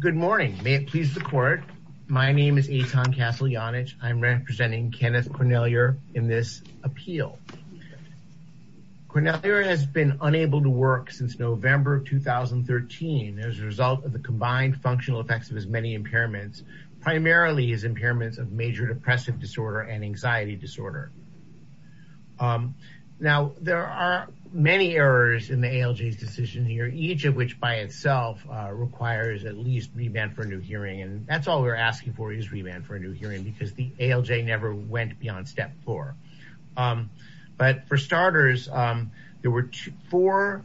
Good morning. May it please the court. My name is Eitan Castellanich. I'm representing Kenneth Cornellier in this appeal. Cornellier has been unable to work since November 2013 as a result of the combined functional effects of his many impairments, primarily his impairments of major depressive disorder and anxiety disorder. Now, there are many errors in the ALJ's decision here, each of which by itself requires at least remand for a new hearing. And that's all we're asking for is remand for a new hearing because the ALJ never went beyond step four. But for starters, there were four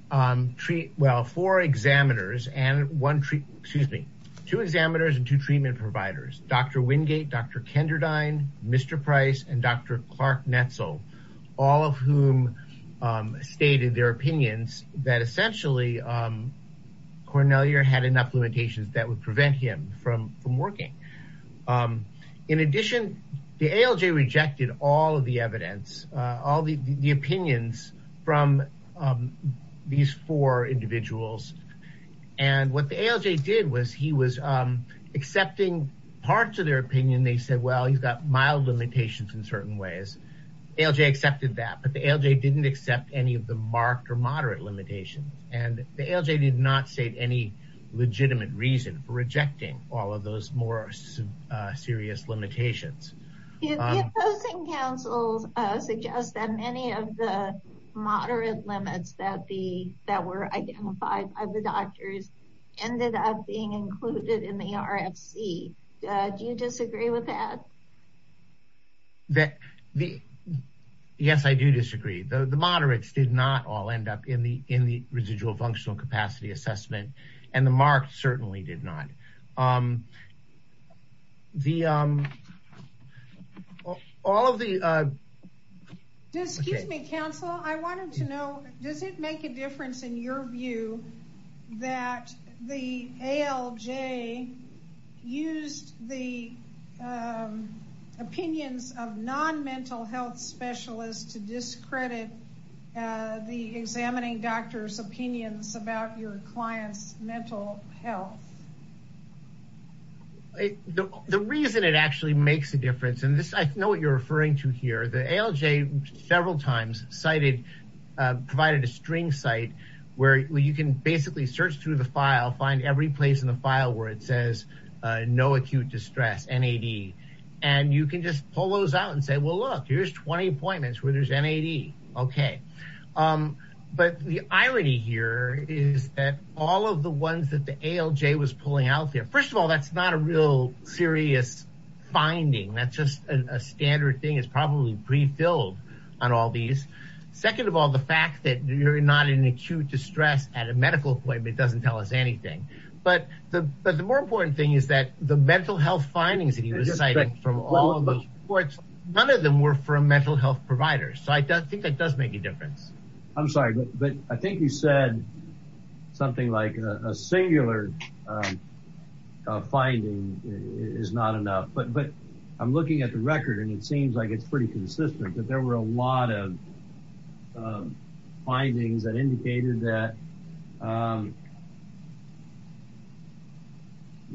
examiners and two treatment providers, Dr. Wingate, Dr. Kenderdine, Mr. Price, and Dr. that essentially Cornellier had enough limitations that would prevent him from working. In addition, the ALJ rejected all of the evidence, all the opinions from these four individuals. And what the ALJ did was he was accepting parts of their opinion. They said, well, he's got mild limitations in certain ways. ALJ accepted that, but the ALJ didn't accept any of the marked or moderate limitations. And the ALJ did not state any legitimate reason for rejecting all of those more serious limitations. The opposing counsels suggest that many of the moderate limits that were identified by the doctors ended up being included in the RFC. Do you disagree with that? That, yes, I do disagree. The moderates did not all end up in the residual functional capacity assessment and the marked certainly did not. The, all of the. Excuse me, counsel. I wanted to know, does it make a difference in your view that the ALJ used the opinions of non-mental health specialists to discredit the examining doctor's opinions about your client's mental health? The reason it actually makes a difference, and this, I know what you're referring to here, the ALJ several times cited, provided a string site where you can basically search through the no acute distress, NAD, and you can just pull those out and say, well, look, here's 20 appointments where there's NAD. Okay. But the irony here is that all of the ones that the ALJ was pulling out there, first of all, that's not a real serious finding. That's just a standard thing. It's probably prefilled on all these. Second of all, the fact that you're not in acute distress at a medical appointment doesn't tell us anything. But the more important thing is that the mental health findings that you were citing from all of those reports, none of them were from mental health providers. So I think that does make a difference. I'm sorry, but I think you said something like a singular finding is not enough, but I'm looking at the record and it seems like pretty consistent that there were a lot of findings that indicated that the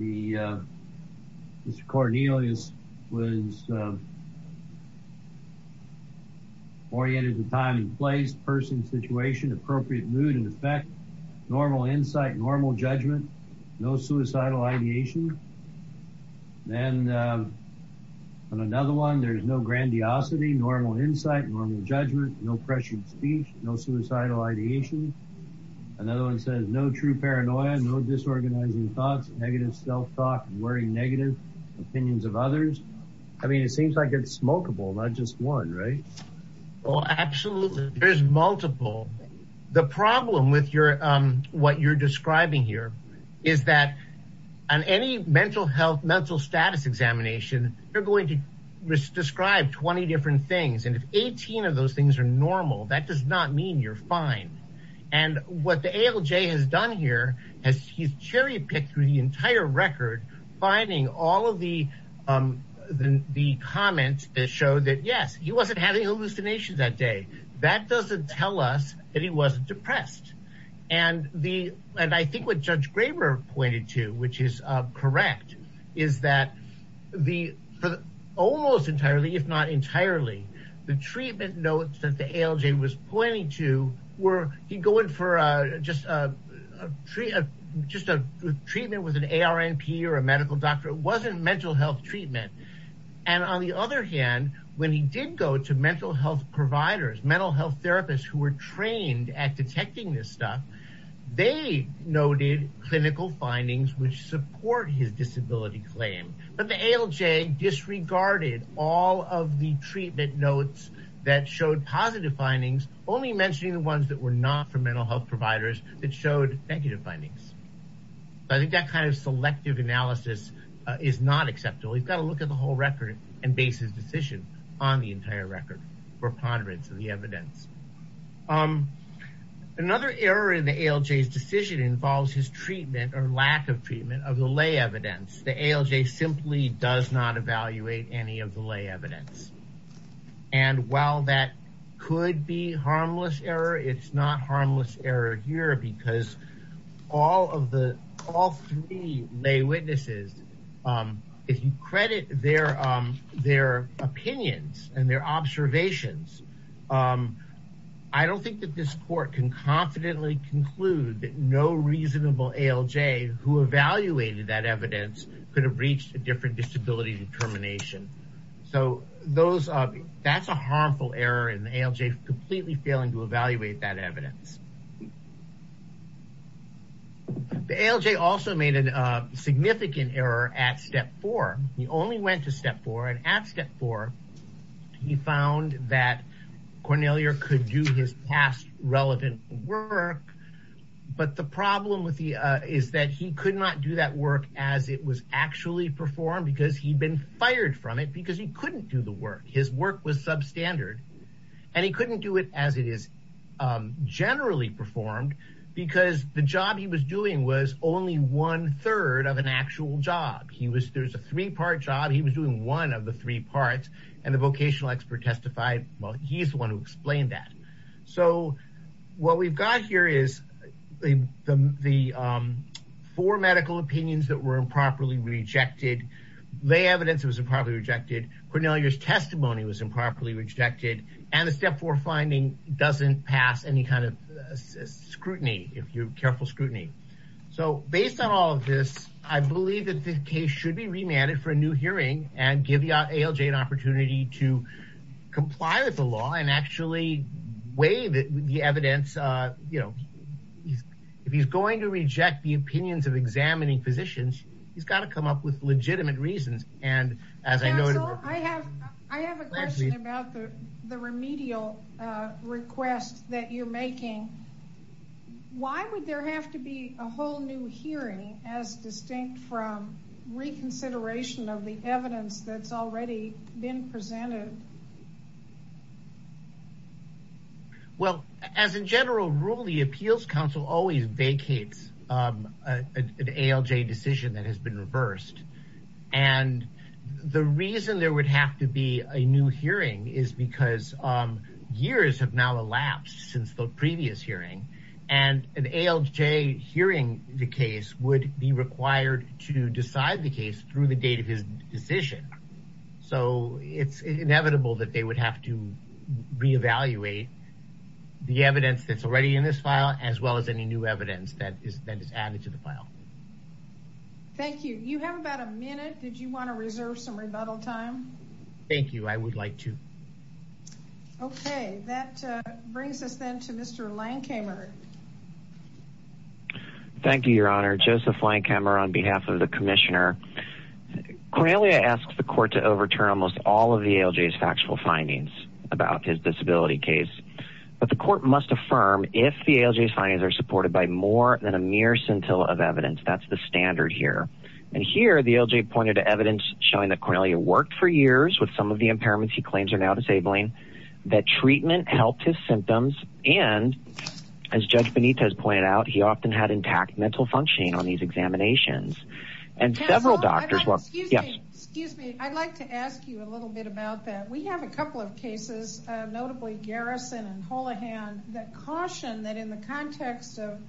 Mr. Cornelius was oriented to time and place, person, situation, appropriate mood and effect, normal insight, normal judgment, no suicidal ideation. Then on another one, there's no grandiosity, normal insight, normal judgment, no pressured speech, no suicidal ideation. Another one says no true paranoia, no disorganizing thoughts, negative self-talk, worrying negative opinions of others. I mean, it seems like it's smokable, not just one, right? Well, absolutely. There's multiple. The problem with what you're describing here is that on any mental health, mental status examination, you're going to describe 20 different things. And if 18 of those things are normal, that does not mean you're fine. And what the ALJ has has cherry-picked through the entire record, finding all of the comments that show that, yes, he wasn't having hallucinations that day. That doesn't tell us that he wasn't depressed. And I think what Judge Graber pointed to, which is correct, is that almost entirely, if not entirely, the treatment notes that the ALJ was pointing to were, he'd go in for just a treatment with an ARNP or a medical doctor. It wasn't mental health treatment. And on the other hand, when he did go to mental health providers, mental health therapists who were trained at detecting this stuff, they noted clinical findings which support his disability claim. But the ALJ disregarded all of the treatment notes that showed positive findings, only mentioning the ones that were not for mental health providers that showed negative findings. I think that kind of selective analysis is not acceptable. He's got to look at the whole record and base his decision on the entire record for ponderance of the evidence. Another error in the ALJ's decision involves his treatment or lack of treatment of the lay evidence. The ALJ simply does not evaluate any of the lay evidence. And while that could be harmless error, it's not harmless error here because all three lay witnesses, if you credit their opinions and their observations, I don't think that this court can confidently conclude that no reasonable ALJ who evaluated that evidence could have reached a different disability determination. So that's a harmful error in the ALJ completely failing to evaluate that evidence. The ALJ also made a significant error at step four. He only went to step four, and at step four he found that Cornelier could do his past relevant work, but the problem is that he could not do that work as it was actually performed because he'd been fired from it because he couldn't do the work. His work was substandard, and he couldn't do it as it is generally performed because the job he was doing was only one-third of an actual job. There's a three-part job. He was doing one of the three parts, and the vocational expert testified, well, he's the one who explained that. So what we've got here is the four medical opinions that were improperly rejected. Lay evidence was improperly rejected. Cornelier's testimony was improperly rejected, and the step four finding doesn't pass any kind of scrutiny if you're careful scrutiny. So based on all of this, I believe that the case should be remanded for a new hearing and give the ALJ an opportunity to comply with the law and weigh the evidence. If he's going to reject the opinions of examining physicians, he's got to come up with legitimate reasons. I have a question about the remedial request that you're making. Why would there have to be a whole new hearing as distinct from reconsideration of the evidence that's already been presented? Well, as a general rule, the appeals council always vacates an ALJ decision that has been reversed. And the reason there would have to be a new hearing is because years have now elapsed since the previous hearing, and an ALJ hearing the case would be required to decide the case through the date of his decision. So it's inevitable that they would have to reevaluate the evidence that's already in this file as well as any new evidence that is added to the file. Thank you. You have about a minute. Did you want to reserve some rebuttal time? Thank you. I would like to. Okay. That brings us then to Mr. Lankhamer. Thank you, Your Honor. Joseph Lankhamer on behalf of the commissioner. Cornelia asked the court to overturn almost all of the ALJ's factual findings about his disability case. But the court must affirm if the ALJ's findings are supported by more than a mere scintilla of evidence, that's the standard here. And here the ALJ pointed to evidence showing that Cornelia worked for years with some of the impairments he claims are now disabling, that treatment helped his symptoms, and as Judge Benitez pointed out, he often had intact mental functioning on these examinations. And several doctors... Excuse me. I'd like to ask you a little bit about that. We have a couple of cases, notably Garrison and Holohan, that caution that in the context of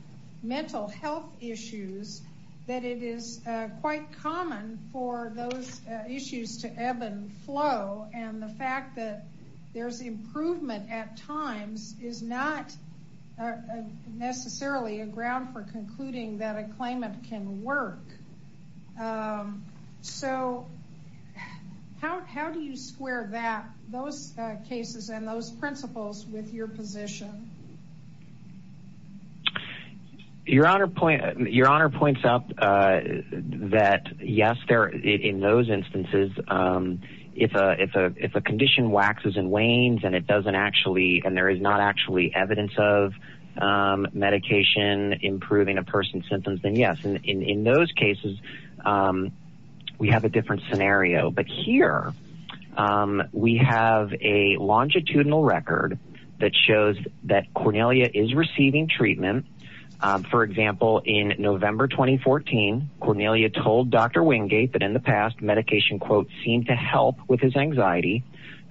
mental health issues that it is quite common for those issues to ebb and flow. And the fact that there's improvement at times is not necessarily a ground for concluding that a claimant can work. So how do you square those cases and those principles with your position? Your Honor points up that yes, in those instances, if a condition waxes and wanes and it doesn't actually, and there is not actually evidence of medication improving a person's symptoms, then yes, in those cases we have a different scenario. But here we have a longitudinal record that shows that Cornelia is receiving treatment. For example, in November 2014, Cornelia told Dr. Wingate that in the past medication, quote, seemed to help with his anxiety.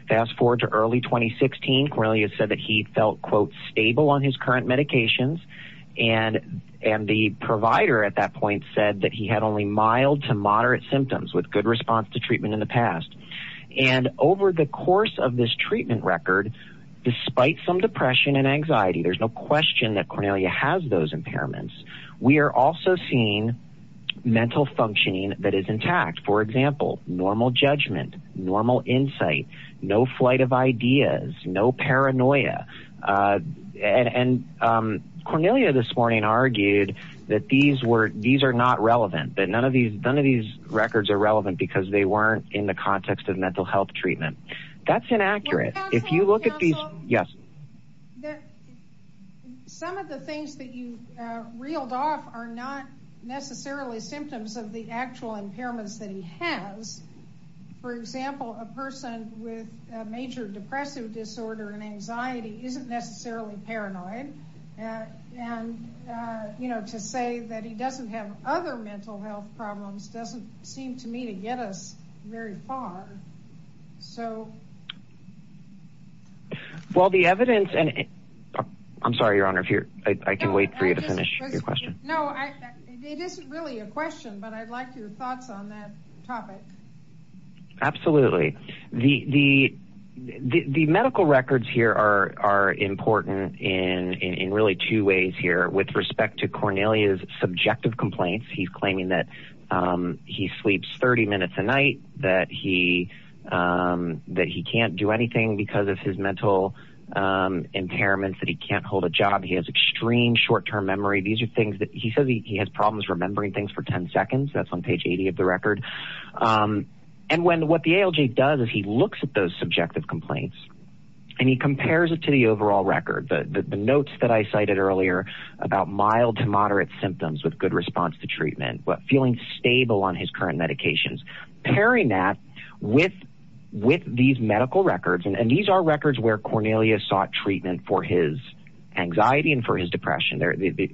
Fast forward to early 2016, Cornelia said that he felt, quote, stable on his current medications. And the provider at that point said that he had only mild to moderate symptoms with good response to treatment in the past. And over the course of this treatment record, despite some depression and anxiety, there's no question that Cornelia has those impairments. We are also seeing mental functioning that is intact. For example, normal judgment, normal insight, no flight of ideas, no paranoia. And Cornelia this morning argued that these are not relevant, that none of these records are relevant because they weren't in the context of mental health treatment. That's inaccurate. If you look at these, yes. Some of the things that you reeled off are not necessarily symptoms of the actual impairments that he has. For example, a person with a major depressive disorder and anxiety isn't necessarily paranoid. And, you know, to say that he doesn't have other mental health problems doesn't seem to me to get us very far. So. Well, the evidence and I'm sorry, Your Honor, if I can wait for you to finish your question. No, it isn't really a question, but I'd like your thoughts on that topic. Absolutely. The the the medical records here are are important in in really two ways here with respect to Cornelia's subjective complaints. He's claiming that he sleeps 30 minutes a night, that he that he can't do anything because of his mental impairments, that he can't hold a job. He has extreme short term memory. These are things that he says he has problems remembering things for 10 seconds. That's on page 80 of the record. And when what the ALG does is he looks at those subjective complaints and he compares it to the overall record. The notes that I cited earlier about mild to moderate symptoms with good response to treatment, but feeling stable on his current medications, pairing that with with these medical records. And these are records where Cornelia sought treatment for his anxiety and for his depression.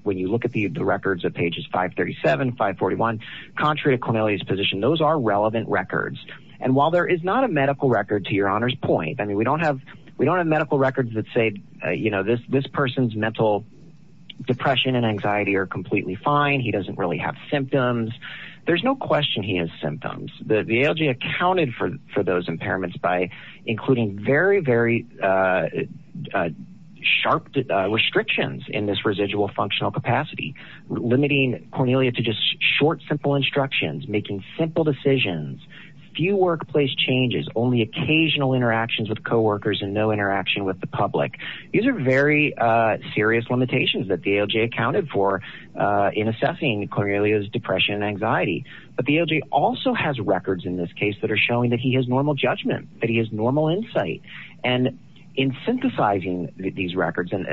When you look at the records of pages 537, 541, contrary to Cornelia's position, those are relevant records. And while there is not a medical record, to Your Honor's point, I mean, we don't have we don't have medical records that say, you know, this this person's mental depression and anxiety are completely fine. He doesn't really have symptoms. There's no question he has symptoms. The ALG accounted for those impairments by including very, very sharp restrictions in this residual functional capacity, limiting Cornelia to just short, simple instructions, making simple decisions, few workplace changes, only occasional interactions with co-workers and no interaction with the public. These are very serious limitations that the ALG accounted for in assessing Cornelia's depression and anxiety. But the ALG also has records in this case that are showing that he has normal judgment, that he has normal insight. And in synthesizing these records, and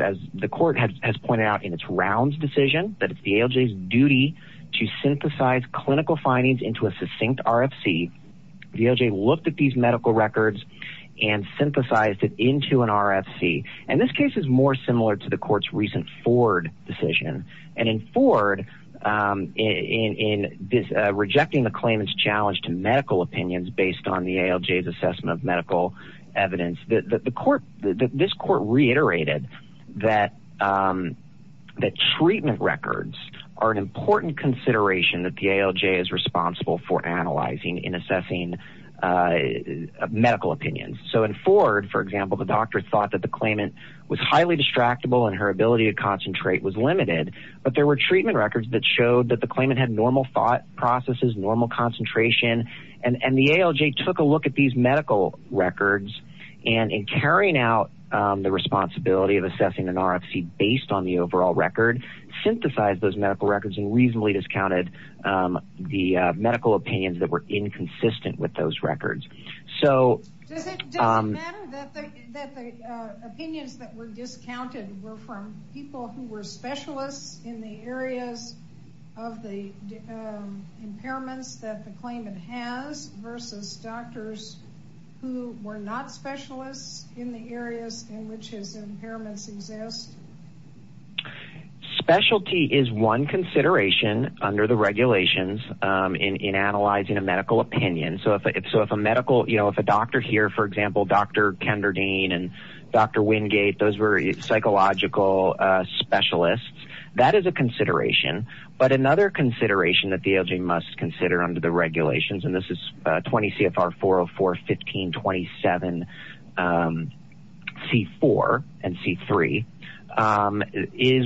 as the court has pointed out in its rounds decision, that it's the ALG's duty to synthesize clinical findings into a succinct RFC, the ALG looked at these medical records and synthesized it into an RFC. And this case is more similar to the court's recent Ford decision. And in Ford, in this rejecting the claimant's challenge to medical opinions based on the ALG's assessment of medical evidence, the court, this court reiterated that that treatment records are an important consideration that the ALG is responsible for analyzing in assessing medical opinions. So in Ford, for example, the doctor thought that the claimant was highly distractible and her ability to concentrate was limited. But there were treatment records that showed that the claimant had normal thought processes, normal concentration, and the ALG took a look at these medical records and in carrying out the responsibility of assessing an RFC based on the overall record, synthesized those medical records and reasonably discounted the medical opinions that were inconsistent with those records. So... Does it matter that the opinions that were discounted were from people who were specialists in the areas of the impairments that the claimant has versus doctors who were not specialists in the areas in which his impairments exist? Specialty is one consideration under the regulations in analyzing a medical opinion. So if a medical, you know, if a doctor here, for example, Dr. Kenderdine and Dr. Wingate, those were psychological specialists, that is a consideration. But another consideration that the ALG must is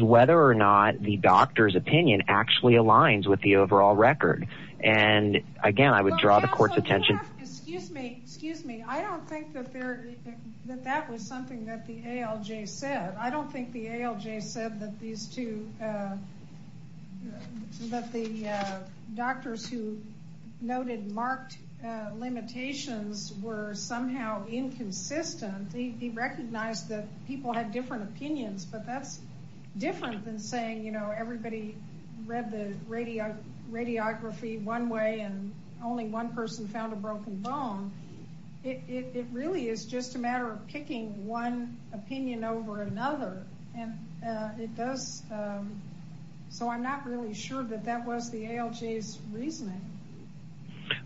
whether or not the doctor's opinion actually aligns with the overall record. And again, I would draw the court's attention... Excuse me, excuse me. I don't think that there that that was something that the ALG said. I don't think the ALG said that these two, that the doctors who noted marked limitations were somehow inconsistent. He recognized that people had different opinions, but that's different than saying, you know, everybody read the radiography one way and only one person found a broken bone. It really is just a matter of picking one opinion over another. And it does... So I'm not really sure that that was the ALG's reasoning.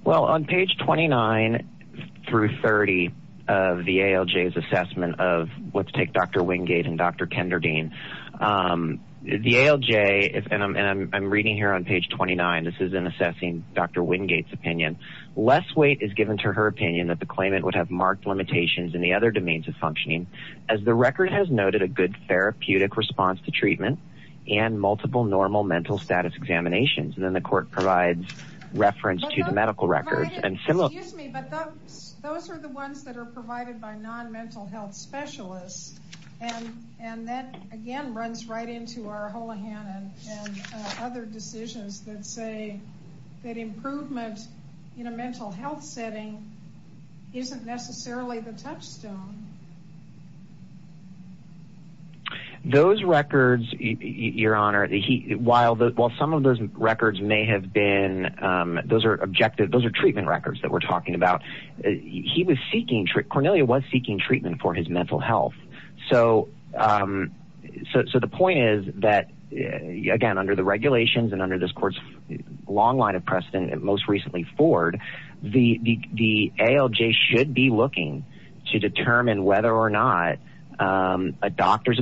Well, on page 29 through 30 of the ALG's assessment of, let's take Dr. Wingate and Dr. Kenderdine, the ALG, and I'm reading here on page 29, this is in assessing Dr. Wingate's opinion, less weight is given to her opinion that the claimant would have marked limitations in the other domains of functioning, as the record has noted a good therapeutic response to treatment and multiple normal mental status examinations. And then the court provides reference to the medical records and similar... Excuse me, but those are the ones that are provided by non-mental health specialists. And that, again, runs right into our Holohan and other decisions that say that improvement in a mental health setting isn't necessarily the your honor. While some of those records may have been, those are objective, those are treatment records that we're talking about. He was seeking, Cornelia was seeking treatment for his mental health. So the point is that, again, under the regulations and under this court's long line of precedent, most recently Ford, the ALG should be looking to determine whether or not a doctor's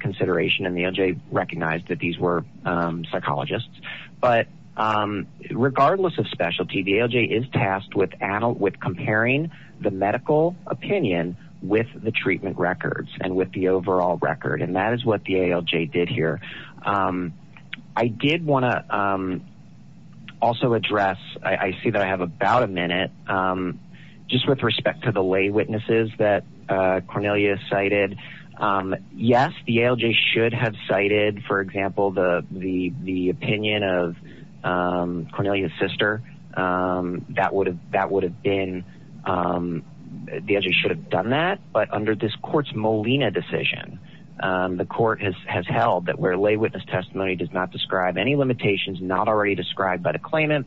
consideration, and the ALG recognized that these were psychologists. But regardless of specialty, the ALG is tasked with comparing the medical opinion with the treatment records and with the overall record. And that is what the ALG did here. I did want to also address, I see that I should have cited, for example, the opinion of Cornelia's sister. That would have been, the ALG should have done that. But under this court's Molina decision, the court has held that where lay witness testimony does not describe any limitations not already described by the claimant,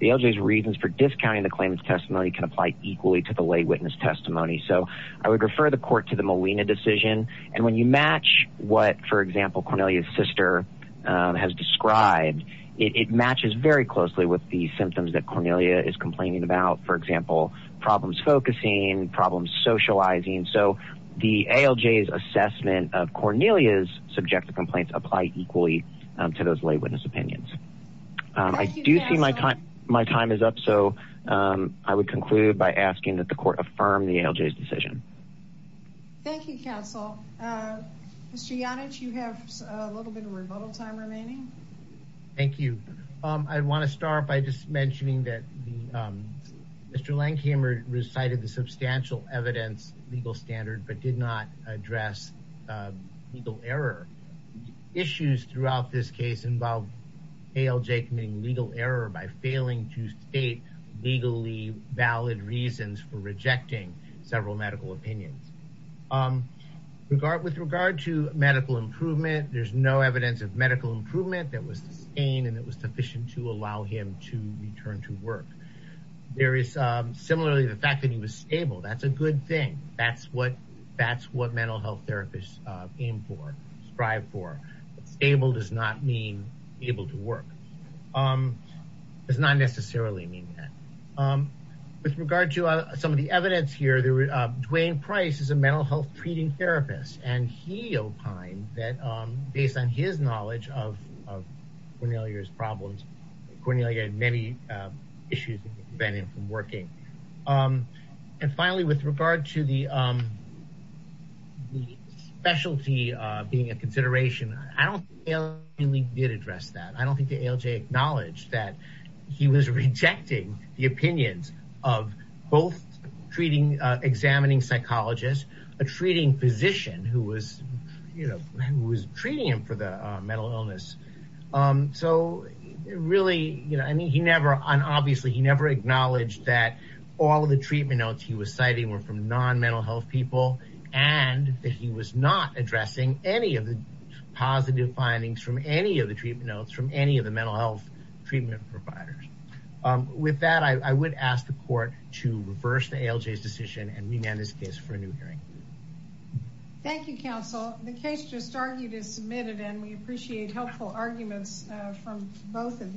the ALG's reasons for discounting the claimant's testimony can apply equally to the lay witness testimony. So I would refer the court to the Molina decision. And when you match what, for example, Cornelia's sister has described, it matches very closely with the symptoms that Cornelia is complaining about. For example, problems focusing, problems socializing. So the ALG's assessment of Cornelia's subjective complaints apply equally to those lay witness opinions. I do see my time is up, so I would conclude by asking that the court affirm the ALG's decision. Thank you, counsel. Mr. Yonich, you have a little bit of rebuttal time remaining. Thank you. I want to start by just mentioning that Mr. Lankhamer recited the substantial evidence legal standard but did not address legal error. Issues throughout this case involve ALJ committing legal error by failing to state legally valid reasons for rejecting several medical opinions. With regard to medical improvement, there's no evidence of medical improvement that was sustained and that was sufficient to allow him to return to work. There is similarly the fact that he was stable. That's a good thing. That's what mental health therapists aim for, strive for. Stable does not mean able to work. It does not necessarily mean that. With regard to some of the evidence here, Dwayne Price is a mental health treating therapist and he opined that based on his knowledge of Cornelia's problems, Cornelia had many issues that prevented him from working. And finally, with regard to the specialty being a consideration, I don't think ALJ did address that. I don't think the ALJ acknowledged that he was rejecting the opinions of both treating, examining psychologists, a treating physician who was, you know, who was treating him for the mental illness. So really, you know, I mean, he never, and obviously he never acknowledged that all of the treatment notes he was citing were from non-mental health people and that he was not addressing any of the positive findings from any of the treatment notes from any of the mental health treatment providers. With that, I would ask the court to reverse the ALJ's decision and remand this case for a new hearing. Thank you, counsel. The case just argued is submitted and we appreciate helpful arguments from both of you.